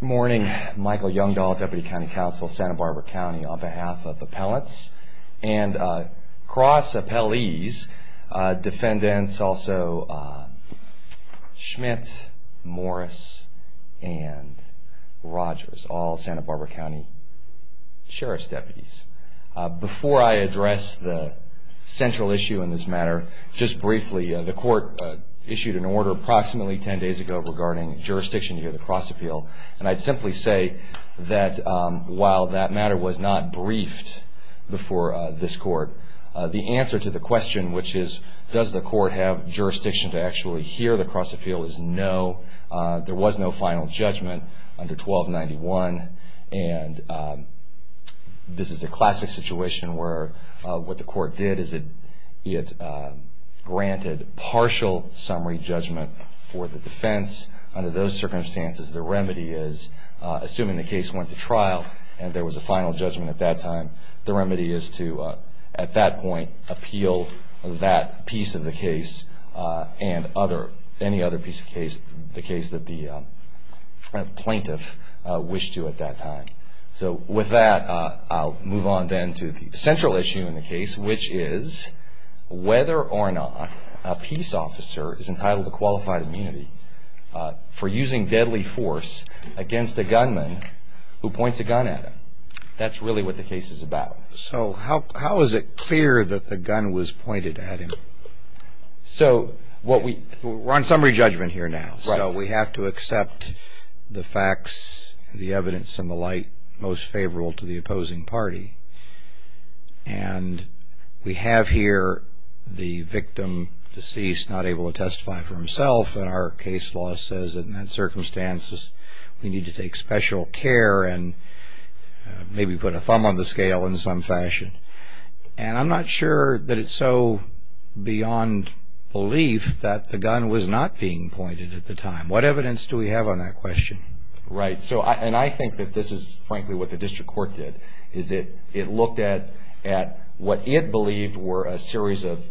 Good morning, Michael Youngdahl, Deputy County Counsel, Santa Barbara County, on behalf of Appellants and Cross Appellees, Defendants, also Schmidt, Morris, and Rogers, all Santa Barbara County Sheriff's Deputies. Before I address the central issue in this matter, just briefly, the court issued an order approximately 10 days ago regarding jurisdiction to hear the cross appeal. And I'd simply say that while that matter was not briefed before this court, the answer to the question, which is does the court have jurisdiction to actually hear the cross appeal, is no. There was no final judgment under 1291, and this is a classic situation where what the court did is it granted partial summary judgment for the defense. Under those circumstances, the remedy is, assuming the case went to trial and there was a final judgment at that time, the remedy is to, at that point, appeal that piece of the case and any other piece of the case that the plaintiff wished to at that time. So with that, I'll move on then to the central issue in the case, which is whether or not a peace officer is entitled to qualified immunity for using deadly force against a gunman who points a gun at him. That's really what the case is about. So how is it clear that the gun was pointed at him? We're on summary judgment here now. So we have to accept the facts, the evidence, and the light most favorable to the opposing party. And we have here the victim, deceased, not able to testify for himself. And our case law says, in that circumstance, we need to take special care and maybe put a thumb on the scale in some fashion. And I'm not sure that it's so beyond belief that the gun was not being pointed at the time. What evidence do we have on that question? Right. And I think that this is, frankly, what the district court did, is it looked at what it believed were a series of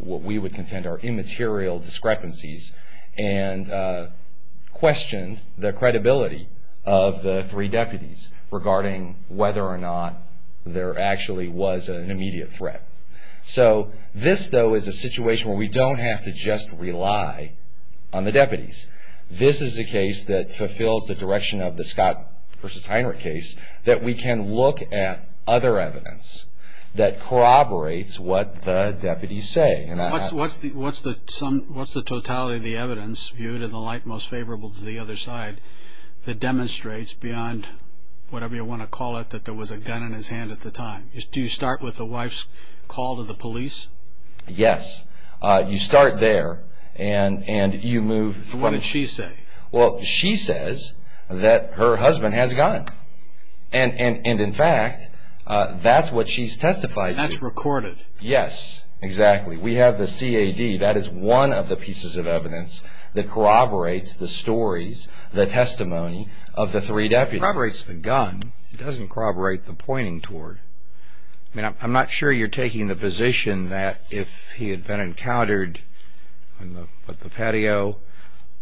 what we would contend are immaterial discrepancies and questioned the credibility of the three deputies regarding whether or not there actually was an immediate threat. So this, though, is a situation where we don't have to just rely on the deputies. This is a case that fulfills the direction of the Scott v. Heinrich case that we can look at other evidence that corroborates what the deputies say. What's the totality of the evidence, viewed in the light most favorable to the other side, that demonstrates beyond whatever you want to call it that there was a gun in his hand at the time? Do you start with the wife's call to the police? Yes. You start there and you move forward. What did she say? Well, she says that her husband has a gun. And, in fact, that's what she's testified to. That's recorded? Yes, exactly. We have the CAD. That is one of the pieces of evidence that corroborates the stories, the testimony of the three deputies. It corroborates the gun. It doesn't corroborate the pointing toward. I mean, I'm not sure you're taking the position that if he had been encountered on the patio,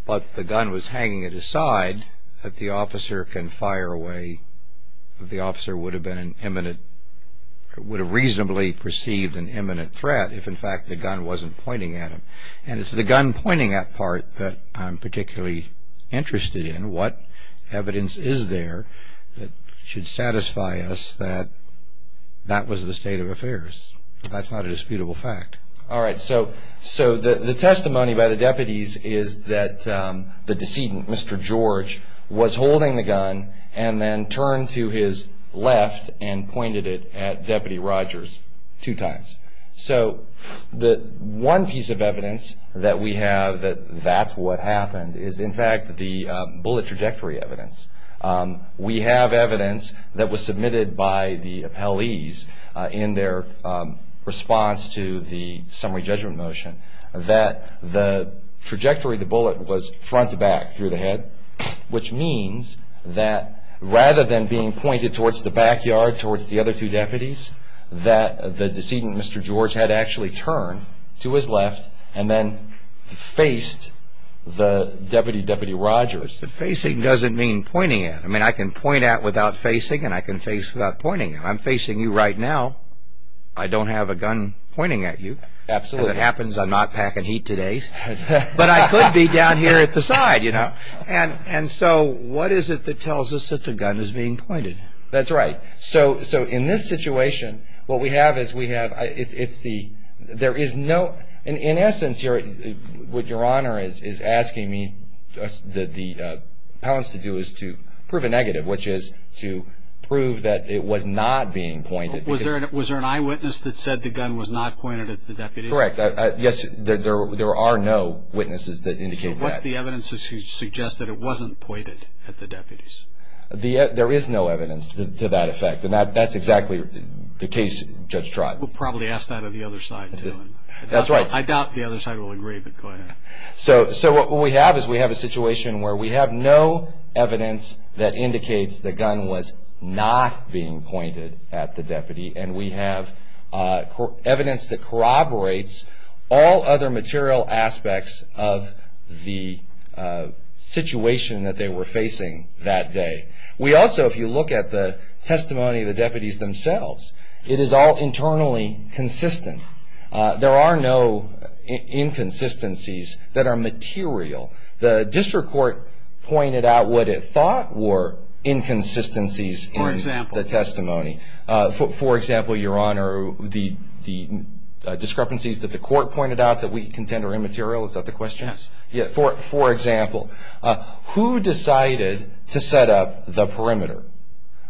but the gun was hanging at his side, that the officer can fire away, the officer would have reasonably perceived an imminent threat if, in fact, the gun wasn't pointing at him. And it's the gun pointing at part that I'm particularly interested in. What evidence is there that should satisfy us that that was the state of affairs? That's not a disputable fact. All right. So the testimony by the deputies is that the decedent, Mr. George, was holding the gun and then turned to his left and pointed it at Deputy Rogers two times. So the one piece of evidence that we have that that's what happened is, in fact, the bullet trajectory evidence. We have evidence that was submitted by the appellees in their response to the summary judgment motion that the trajectory of the bullet was front to back through the head, which means that rather than being pointed towards the backyard, towards the other two deputies, that the decedent, Mr. George, had actually turned to his left and then faced the deputy, Deputy Rogers. Facing doesn't mean pointing at. I mean, I can point at without facing, and I can face without pointing at. I'm facing you right now. I don't have a gun pointing at you. Absolutely. As it happens, I'm not packing heat today. But I could be down here at the side, you know. And so what is it that tells us that the gun is being pointed? That's right. So in this situation, what we have is we have – it's the – there is no – In essence here, what Your Honor is asking me that the appellants to do is to prove a negative, which is to prove that it was not being pointed. Was there an eyewitness that said the gun was not pointed at the deputies? Correct. Yes, there are no witnesses that indicate that. So what's the evidence that suggests that it wasn't pointed at the deputies? There is no evidence to that effect, and that's exactly the case, Judge Trott. We'll probably ask that on the other side, too. That's right. I doubt the other side will agree, but go ahead. So what we have is we have a situation where we have no evidence that indicates the gun was not being pointed at the deputy, and we have evidence that corroborates all other material aspects of the situation that they were facing that day. We also, if you look at the testimony of the deputies themselves, it is all internally consistent. There are no inconsistencies that are material. The district court pointed out what it thought were inconsistencies in the testimony. For example? For example, Your Honor, the discrepancies that the court pointed out that we contend are immaterial. Is that the question? Yes. For example, who decided to set up the perimeter?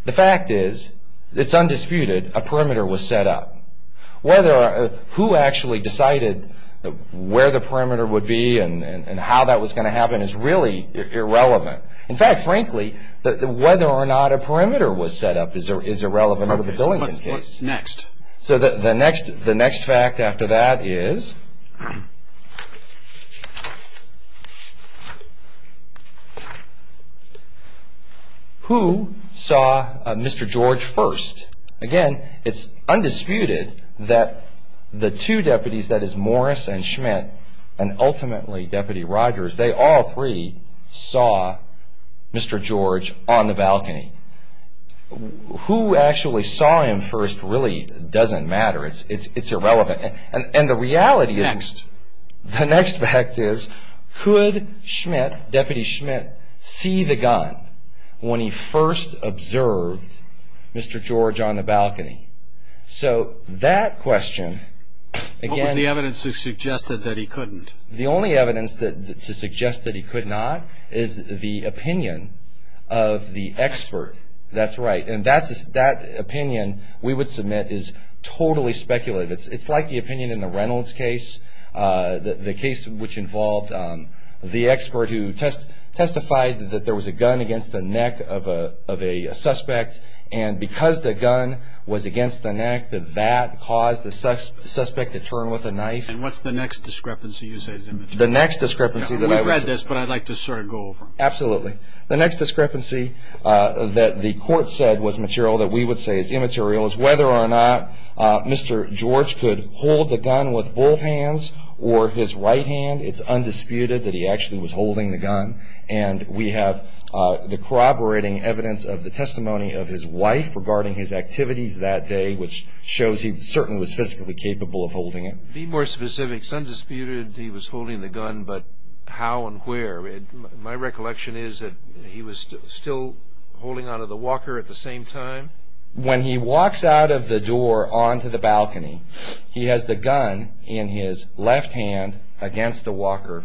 The fact is it's undisputed a perimeter was set up. Who actually decided where the perimeter would be and how that was going to happen is really irrelevant. In fact, frankly, whether or not a perimeter was set up is irrelevant under the Billington case. What's next? So the next fact after that is who saw Mr. George first? Again, it's undisputed that the two deputies, that is Morris and Schmidt, and ultimately Deputy Rogers, they all three saw Mr. George on the balcony. Who actually saw him first really doesn't matter. It's irrelevant. And the reality is... Next. The next fact is could Schmidt, Deputy Schmidt, see the gun when he first observed Mr. George on the balcony? So that question, again... What was the evidence that suggested that he couldn't? The only evidence to suggest that he could not is the opinion of the expert. That's right. And that opinion we would submit is totally speculative. It's like the opinion in the Reynolds case. The case which involved the expert who testified that there was a gun against the neck of a suspect, and because the gun was against the neck, that that caused the suspect to turn with a knife. And what's the next discrepancy you say is immaterial? The next discrepancy that I would say... We've read this, but I'd like to sort of go over it. Absolutely. The next discrepancy that the court said was material that we would say is immaterial is whether or not Mr. George could hold the gun with both hands or his right hand. It's undisputed that he actually was holding the gun. And we have the corroborating evidence of the testimony of his wife regarding his activities that day, which shows he certainly was physically capable of holding it. Be more specific. It's undisputed he was holding the gun, but how and where? My recollection is that he was still holding on to the walker at the same time. When he walks out of the door onto the balcony, he has the gun in his left hand against the walker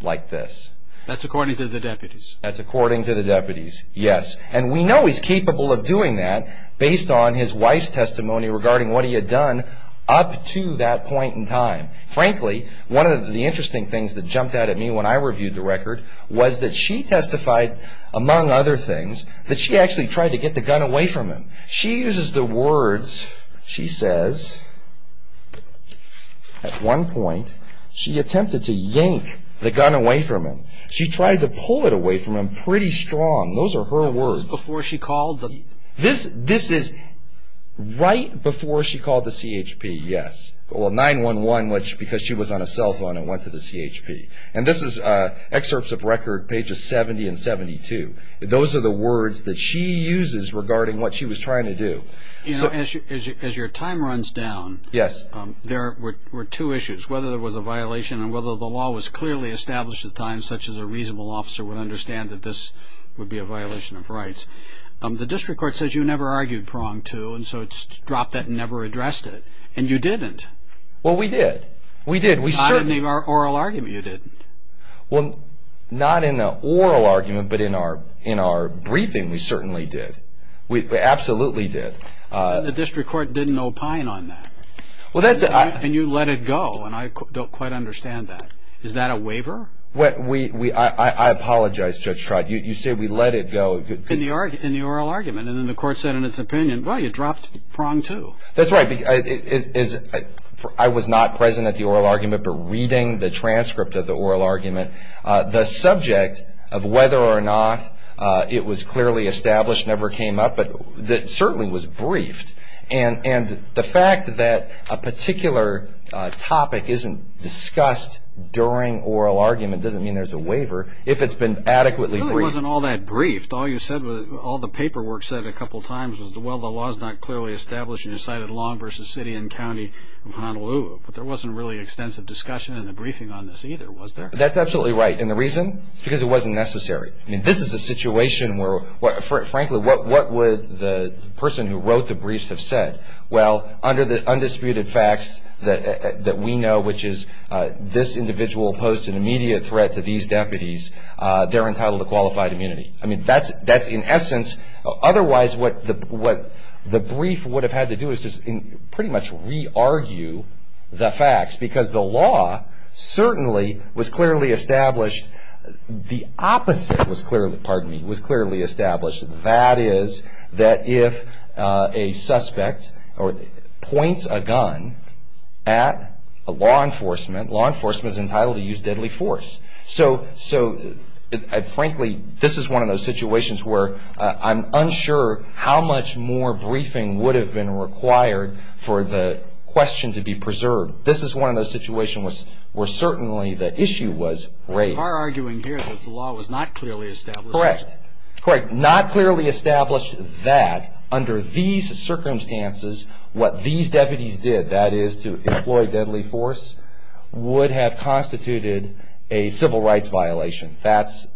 like this. That's according to the deputies. That's according to the deputies, yes. And we know he's capable of doing that based on his wife's testimony regarding what he had done up to that point in time. Frankly, one of the interesting things that jumped out at me when I reviewed the record was that she testified, among other things, that she actually tried to get the gun away from him. She uses the words, she says, at one point, she attempted to yank the gun away from him. She tried to pull it away from him pretty strong. Those are her words. This is before she called? This is right before she called the CHP, yes. Well, 9-1-1, because she was on a cell phone and went to the CHP. And this is excerpts of record pages 70 and 72. Those are the words that she uses regarding what she was trying to do. As your time runs down, there were two issues, whether there was a violation and whether the law was clearly established at the time, such as a reasonable officer would understand that this would be a violation of rights. The district court says you never argued prong two, and so it's dropped that and never addressed it. And you didn't. Well, we did. We did. Not in the oral argument, you didn't. Well, not in the oral argument, but in our briefing, we certainly did. We absolutely did. The district court didn't opine on that. And you let it go, and I don't quite understand that. Is that a waiver? I apologize, Judge Trott. You say we let it go. In the oral argument, and then the court said in its opinion, well, you dropped prong two. That's right. I was not present at the oral argument, but reading the transcript of the oral argument, the subject of whether or not it was clearly established never came up, but it certainly was briefed. And the fact that a particular topic isn't discussed during oral argument doesn't mean there's a waiver, if it's been adequately briefed. It really wasn't all that briefed. All the paperwork said a couple times was, well, the law is not clearly established. You cited Long v. City and County of Honolulu, but there wasn't really extensive discussion in the briefing on this either, was there? That's absolutely right, and the reason is because it wasn't necessary. I mean, this is a situation where, frankly, what would the person who wrote the briefs have said? Well, under the undisputed facts that we know, which is this individual posed an immediate threat to these deputies, they're entitled to qualified immunity. I mean, that's in essence otherwise what the brief would have had to do is pretty much re-argue the facts, because the law certainly was clearly established. The opposite was clearly established. That is that if a suspect points a gun at law enforcement, law enforcement is entitled to use deadly force. So, frankly, this is one of those situations where I'm unsure how much more briefing would have been required for the question to be preserved. This is one of those situations where certainly the issue was raised. You are arguing here that the law was not clearly established. Correct. Not clearly established that under these circumstances what these deputies did, that is to employ deadly force, would have constituted a civil rights violation. That's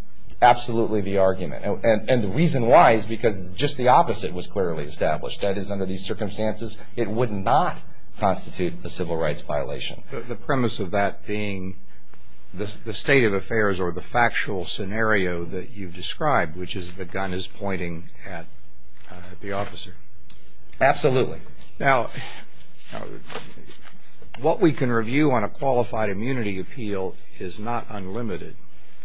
absolutely the argument, and the reason why is because just the opposite was clearly established. That is under these circumstances it would not constitute a civil rights violation. The premise of that being the state of affairs or the factual scenario that you described, which is the gun is pointing at the officer. Absolutely. Now, what we can review on a qualified immunity appeal is not unlimited.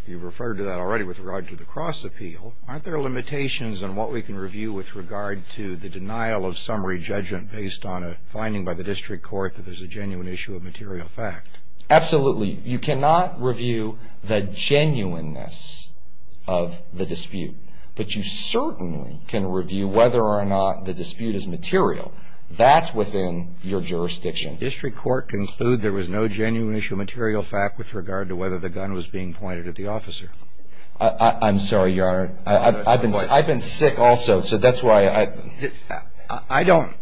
You referred to that already with regard to the cross appeal. Aren't there limitations on what we can review with regard to the denial of summary judgment based on a finding by the district court that there's a genuine issue of material fact? Absolutely. You cannot review the genuineness of the dispute, but you certainly can review whether or not the dispute is material. That's within your jurisdiction. District court conclude there was no genuine issue of material fact with regard to whether the gun was being pointed at the officer. I'm sorry, Your Honor. I've been sick also, so that's why I. I don't.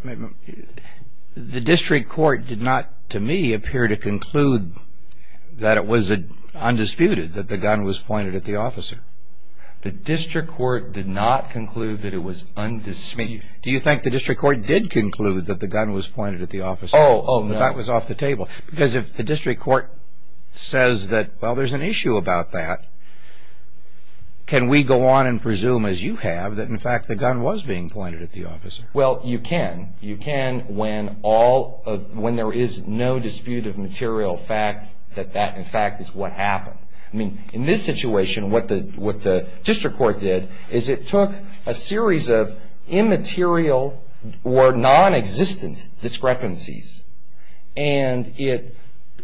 The district court did not, to me, appear to conclude that it was undisputed that the gun was pointed at the officer. The district court did not conclude that it was undisputed. Do you think the district court did conclude that the gun was pointed at the officer? Oh, no. That was off the table. Because if the district court says that, well, there's an issue about that, can we go on and presume, as you have, that, in fact, the gun was being pointed at the officer? Well, you can. You can when there is no dispute of material fact that that, in fact, is what happened. I mean, in this situation, what the district court did is it took a series of immaterial or nonexistent discrepancies and it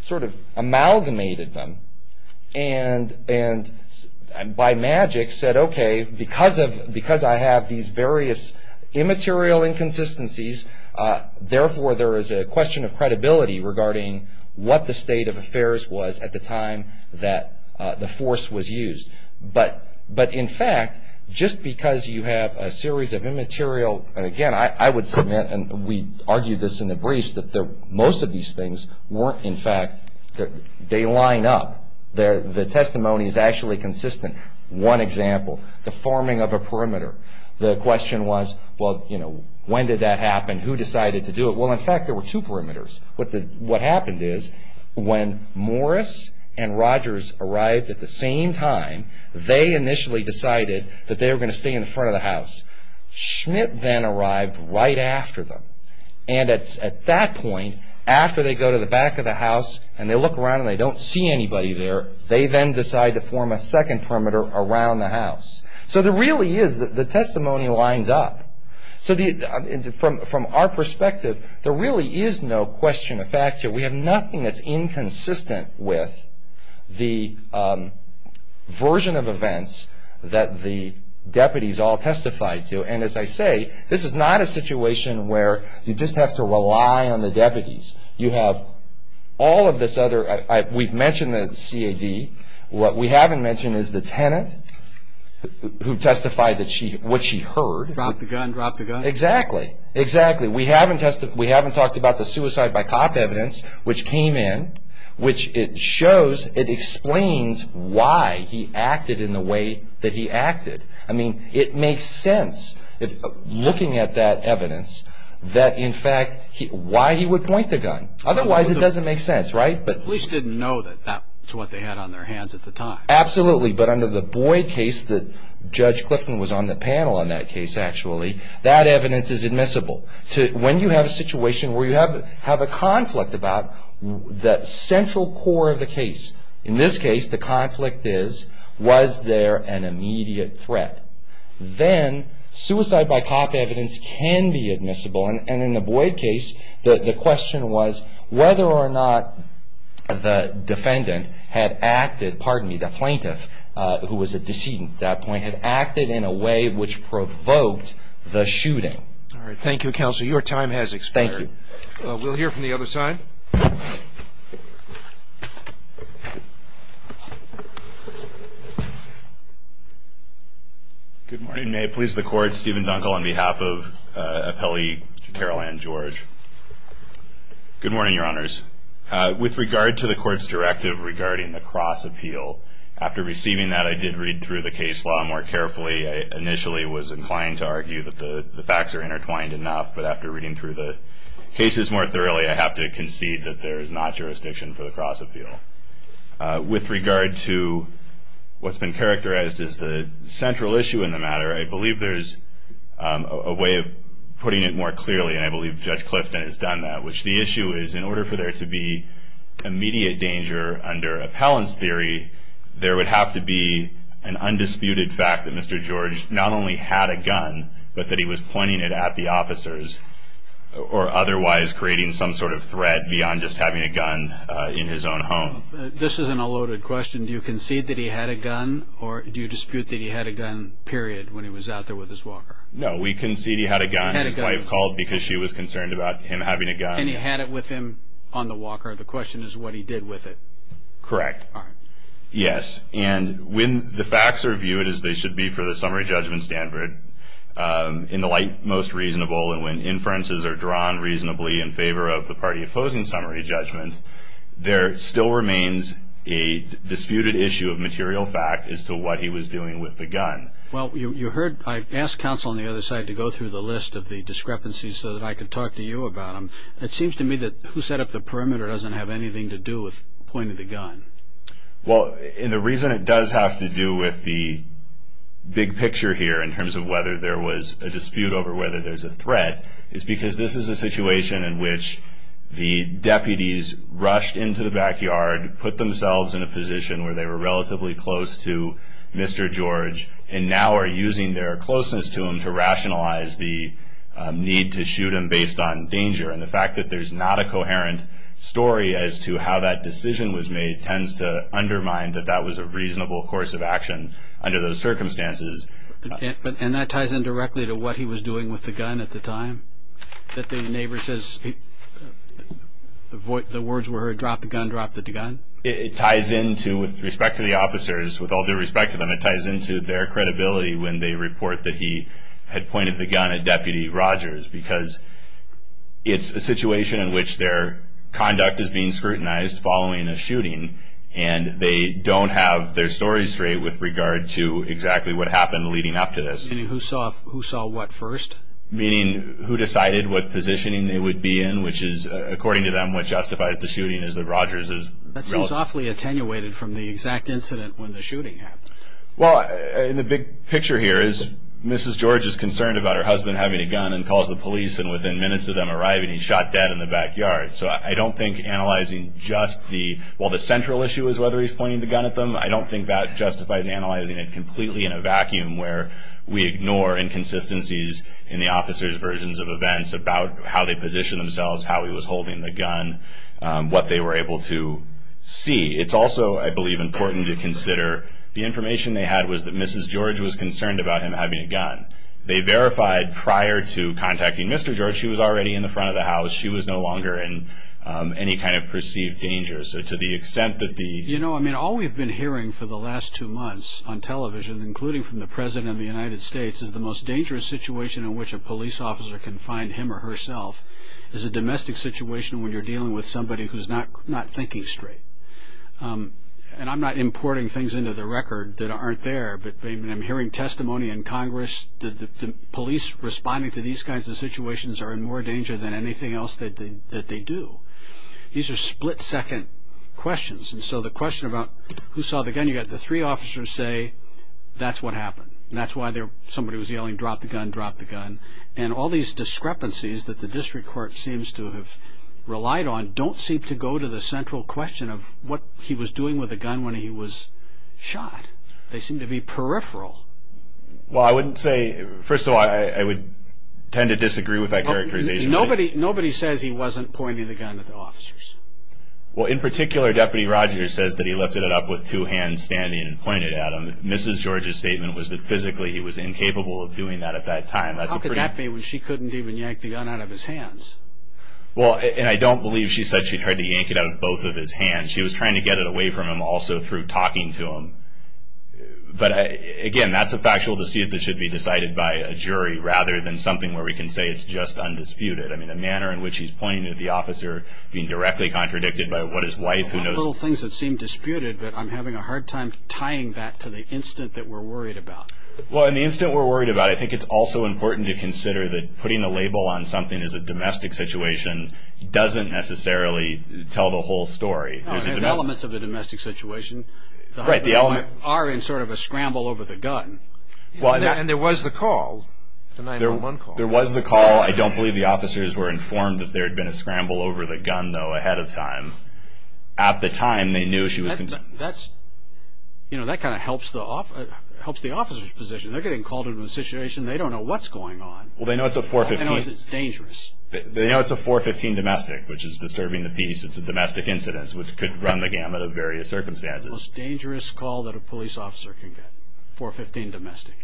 sort of amalgamated them and by magic said, okay, because I have these various immaterial inconsistencies, therefore there is a question of credibility regarding what the state of affairs was at the time that the force was used. But, in fact, just because you have a series of immaterial, and again, I would submit, and we argued this in the briefs, that most of these things weren't, in fact, they line up. The testimony is actually consistent. One example, the forming of a perimeter. The question was, well, you know, when did that happen? Who decided to do it? Well, in fact, there were two perimeters. What happened is when Morris and Rogers arrived at the same time, they initially decided that they were going to stay in front of the house. Schmidt then arrived right after them. And at that point, after they go to the back of the house and they look around and they don't see anybody there, they then decide to form a second perimeter around the house. So there really is, the testimony lines up. So from our perspective, there really is no question of facture. We have nothing that's inconsistent with the version of events that the deputies all testified to. And as I say, this is not a situation where you just have to rely on the deputies. You have all of this other, we've mentioned the CAD. What we haven't mentioned is the tenant who testified what she heard. Dropped the gun, dropped the gun. Exactly. Exactly. We haven't talked about the suicide by cop evidence which came in, which it shows, it explains why he acted in the way that he acted. I mean, it makes sense looking at that evidence that, in fact, why he would point the gun. Otherwise, it doesn't make sense, right? The police didn't know that that's what they had on their hands at the time. Absolutely. But under the Boyd case that Judge Clifton was on the panel on that case, actually, that evidence is admissible. When you have a situation where you have a conflict about the central core of the case, in this case, the conflict is was there an immediate threat, then suicide by cop evidence can be admissible. And in the Boyd case, the question was whether or not the defendant had acted, pardon me, the plaintiff, who was a decedent at that point, had acted in a way which provoked the shooting. All right. Thank you, counsel. Your time has expired. Thank you. We'll hear from the other side. Good morning. May it please the Court, Stephen Dunkel on behalf of appellee Carol Ann George. Good morning, Your Honors. With regard to the Court's directive regarding the cross-appeal, after receiving that I did read through the case law more carefully. I initially was inclined to argue that the facts are intertwined enough, but after reading through the cases more thoroughly, I have to concede that there is not jurisdiction for the cross-appeal. With regard to what's been characterized as the central issue in the matter, I believe there's a way of putting it more clearly, and I believe Judge Clifton has done that, which the issue is in order for there to be immediate danger under appellant's theory, there would have to be an undisputed fact that Mr. George not only had a gun, but that he was pointing it at the officers or otherwise creating some sort of threat beyond just having a gun in his own home. This is an unloaded question. And do you concede that he had a gun, or do you dispute that he had a gun, period, when he was out there with his walker? No, we concede he had a gun. His wife called because she was concerned about him having a gun. And he had it with him on the walker. The question is what he did with it. Correct. All right. Yes, and when the facts are viewed as they should be for the summary judgment standard, in the light most reasonable, and when inferences are drawn reasonably in favor of the party opposing summary judgment, there still remains a disputed issue of material fact as to what he was doing with the gun. Well, you heard I asked counsel on the other side to go through the list of the discrepancies so that I could talk to you about them. It seems to me that who set up the perimeter doesn't have anything to do with pointing the gun. Well, and the reason it does have to do with the big picture here in terms of whether there was a dispute over whether there's a threat is because this is a situation in which the deputies rushed into the backyard, put themselves in a position where they were relatively close to Mr. George, and now are using their closeness to him to rationalize the need to shoot him based on danger. And the fact that there's not a coherent story as to how that decision was made tends to undermine that that was a reasonable course of action under those circumstances. And that ties in directly to what he was doing with the gun at the time? That the neighbor says the words were heard, drop the gun, drop the gun? It ties into, with respect to the officers, with all due respect to them, it ties into their credibility when they report that he had pointed the gun at Deputy Rogers because it's a situation in which their conduct is being scrutinized following a shooting and they don't have their story straight with regard to exactly what happened leading up to this. Meaning who saw what first? Meaning who decided what positioning they would be in, which is, according to them, what justifies the shooting is that Rogers is relatively... That seems awfully attenuated from the exact incident when the shooting happened. Well, and the big picture here is Mrs. George is concerned about her husband having a gun and calls the police, and within minutes of them arriving, he's shot dead in the backyard. So I don't think analyzing just the... Well, the central issue is whether he's pointing the gun at them. I don't think that justifies analyzing it completely in a vacuum where we ignore inconsistencies in the officers' versions of events about how they positioned themselves, how he was holding the gun, what they were able to see. It's also, I believe, important to consider the information they had was that Mrs. George was concerned about him having a gun. They verified prior to contacting Mr. George she was already in the front of the house. She was no longer in any kind of perceived danger. So to the extent that the... You know, I mean, all we've been hearing for the last two months on television, including from the president of the United States, is the most dangerous situation in which a police officer can find him or herself is a domestic situation when you're dealing with somebody who's not thinking straight. And I'm not importing things into the record that aren't there, but I'm hearing testimony in Congress that the police responding to these kinds of situations are in more danger than anything else that they do. These are split-second questions. And so the question about who saw the gun, you've got the three officers say that's what happened, and that's why somebody was yelling, drop the gun, drop the gun. And all these discrepancies that the district court seems to have relied on don't seem to go to the central question of what he was doing with the gun when he was shot. They seem to be peripheral. Well, I wouldn't say... First of all, I would tend to disagree with that characterization. Nobody says he wasn't pointing the gun at the officers. Well, in particular, Deputy Rogers says that he lifted it up with two hands standing and pointed at him. Mrs. George's statement was that physically he was incapable of doing that at that time. How could that be when she couldn't even yank the gun out of his hands? Well, and I don't believe she said she tried to yank it out of both of his hands. She was trying to get it away from him also through talking to him. But, again, that's a factual deceit that should be decided by a jury rather than something where we can say it's just undisputed. I mean, the manner in which he's pointing at the officer being directly contradicted by what his wife who knows... Well, there are little things that seem disputed, but I'm having a hard time tying that to the incident that we're worried about. Well, in the incident we're worried about, I think it's also important to consider that putting the label on something as a domestic situation doesn't necessarily tell the whole story. No, there's elements of the domestic situation. Right, the element... Are in sort of a scramble over the gun. And there was the call, the 911 call. There was the call. I don't believe the officers were informed that there had been a scramble over the gun, though, ahead of time. At the time, they knew she was... That kind of helps the officer's position. They're getting called into a situation. They don't know what's going on. Well, they know it's a 415. They know it's dangerous. They know it's a 415 domestic, which is disturbing the peace. It's a domestic incident which could run the gamut of various circumstances. It's the most dangerous call that a police officer can get, 415 domestic.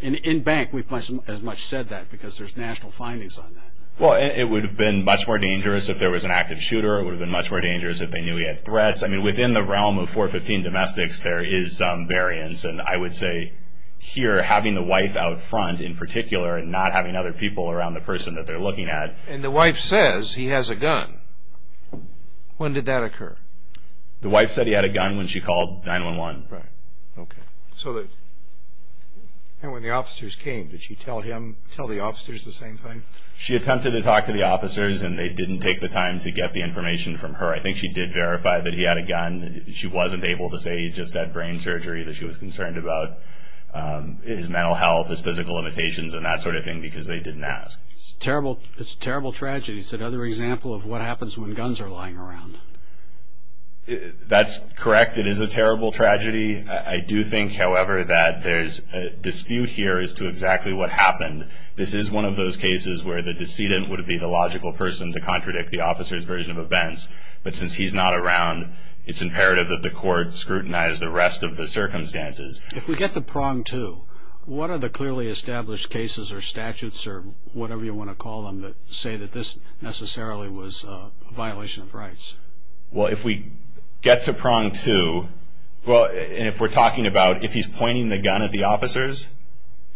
And in bank, we've as much said that because there's national findings on that. Well, it would have been much more dangerous if there was an active shooter. It would have been much more dangerous if they knew he had threats. I mean, within the realm of 415 domestics, there is some variance. And I would say here, having the wife out front in particular and not having other people around the person that they're looking at. And the wife says he has a gun. When did that occur? The wife said he had a gun when she called 911. Right. Okay. And when the officers came, did she tell the officers the same thing? She attempted to talk to the officers, and they didn't take the time to get the information from her. I think she did verify that he had a gun. She wasn't able to say he just had brain surgery, that she was concerned about his mental health, his physical limitations, and that sort of thing because they didn't ask. It's a terrible tragedy. It's another example of what happens when guns are lying around. That's correct. It is a terrible tragedy. I do think, however, that there's a dispute here as to exactly what happened. This is one of those cases where the decedent would be the logical person to contradict the officer's version of events. But since he's not around, it's imperative that the court scrutinize the rest of the circumstances. If we get the prong two, what are the clearly established cases or statutes or whatever you want to call them that say that this necessarily was a violation of rights? Well, if we get to prong two, and if we're talking about if he's pointing the gun at the officers,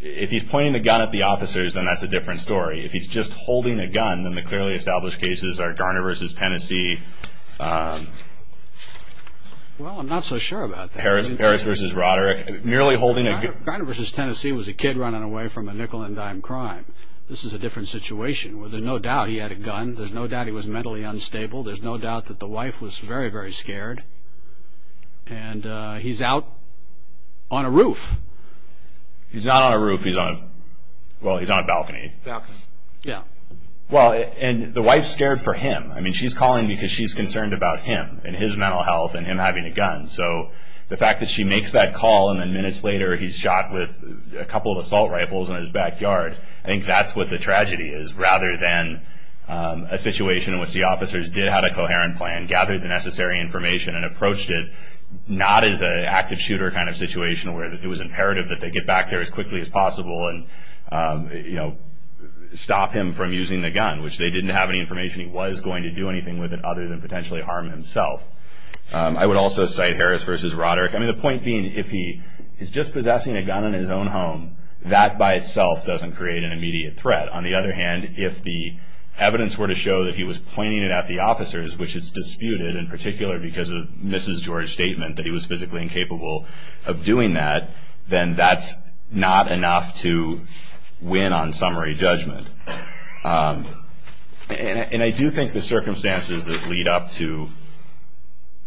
if he's pointing the gun at the officers, then that's a different story. If he's just holding a gun, then the clearly established cases are Garner v. Tennessee. Well, I'm not so sure about that. Harris v. Rotter, nearly holding a gun. Garner v. Tennessee was a kid running away from a nickel-and-dime crime. This is a different situation. There's no doubt he had a gun. There's no doubt he was mentally unstable. There's no doubt that the wife was very, very scared. And he's out on a roof. He's not on a roof. He's on a balcony. And the wife's scared for him. She's calling because she's concerned about him and his mental health and him having a gun. So the fact that she makes that call, and then minutes later he's shot with a couple of assault rifles in his backyard, I think that's what the tragedy is rather than a situation in which the officers did have a coherent plan, gathered the necessary information, and approached it not as an active shooter kind of situation where it was imperative that they get back there as quickly as possible and, you know, stop him from using the gun, which they didn't have any information he was going to do anything with it other than potentially harm himself. I would also cite Harris v. Roderick. I mean, the point being if he is just possessing a gun in his own home, that by itself doesn't create an immediate threat. On the other hand, if the evidence were to show that he was pointing it at the officers, which is disputed in particular because of Mrs. George's statement that he was physically incapable of doing that, then that's not enough to win on summary judgment. And I do think the circumstances that lead up to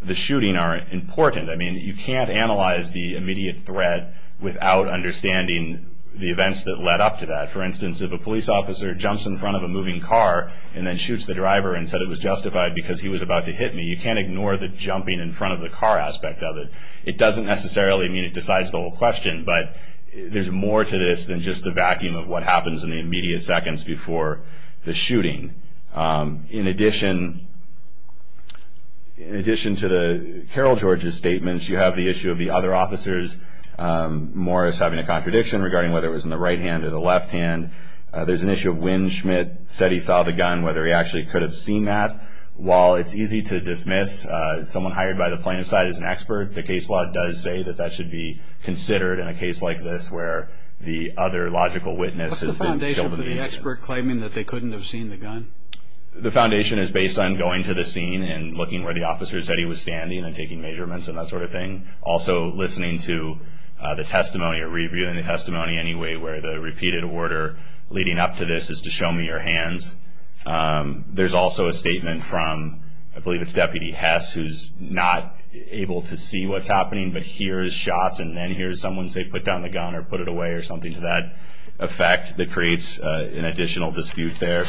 the shooting are important. I mean, you can't analyze the immediate threat without understanding the events that led up to that. For instance, if a police officer jumps in front of a moving car and then shoots the driver and said it was justified because he was about to hit me, you can't ignore the jumping in front of the car aspect of it. It doesn't necessarily mean it decides the whole question, but there's more to this than just the vacuum of what happens in the immediate second that happens before the shooting. In addition to the Carol George's statements, you have the issue of the other officers, Morris, having a contradiction regarding whether it was in the right hand or the left hand. There's an issue of when Schmidt said he saw the gun, whether he actually could have seen that. While it's easy to dismiss someone hired by the plaintiff's side as an expert, the case law does say that that should be considered in a case like this where the other logical witness has been killed in the incident. What's the foundation for the expert claiming that they couldn't have seen the gun? The foundation is based on going to the scene and looking where the officer said he was standing and taking measurements and that sort of thing. Also, listening to the testimony or reviewing the testimony anyway where the repeated order leading up to this is to show me your hands. There's also a statement from, I believe it's Deputy Hess, who's not able to see what's happening but hears shots and then hears someone say put down the gun or put it away or something to that effect that creates an additional dispute there.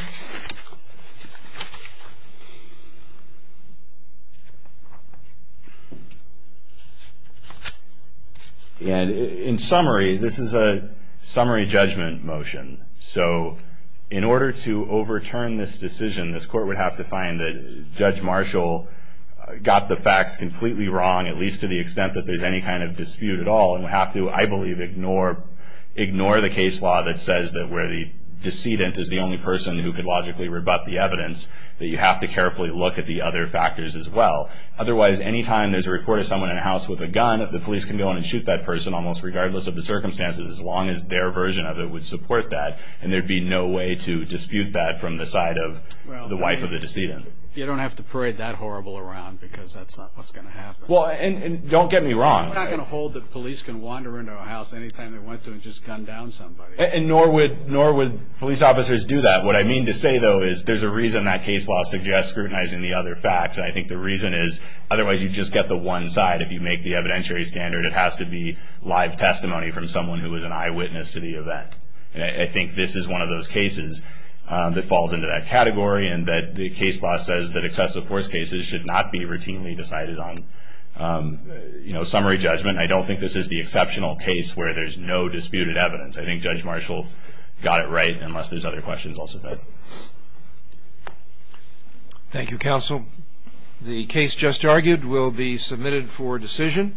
In summary, this is a summary judgment motion. In order to overturn this decision, this court would have to find that Judge Marshall got the facts completely wrong, at least to the extent that there's any kind of dispute at all and would have to, I believe, ignore the case law that says that where the decedent is the only person who could logically rebut the evidence that you have to carefully look at the other factors as well. Otherwise, anytime there's a report of someone in a house with a gun, the police can go in and shoot that person almost regardless of the circumstances as long as their version of it would support that and there'd be no way to dispute that from the side of the wife of the decedent. You don't have to parade that horrible around because that's not what's going to happen. Don't get me wrong. I'm not going to hold that police can wander into a house anytime they want to and just gun down somebody. Nor would police officers do that. What I mean to say, though, is there's a reason that case law suggests scrutinizing the other facts. I think the reason is otherwise you just get the one side. If you make the evidentiary standard, it has to be live testimony from someone who was an eyewitness to the event. I think this is one of those cases that falls into that category and that the case law says that excessive force cases should not be routinely decided on. Summary judgment, I don't think this is the exceptional case where there's no disputed evidence. I think Judge Marshall got it right unless there's other questions I'll submit. Thank you, Counsel. The case just argued will be submitted for decision.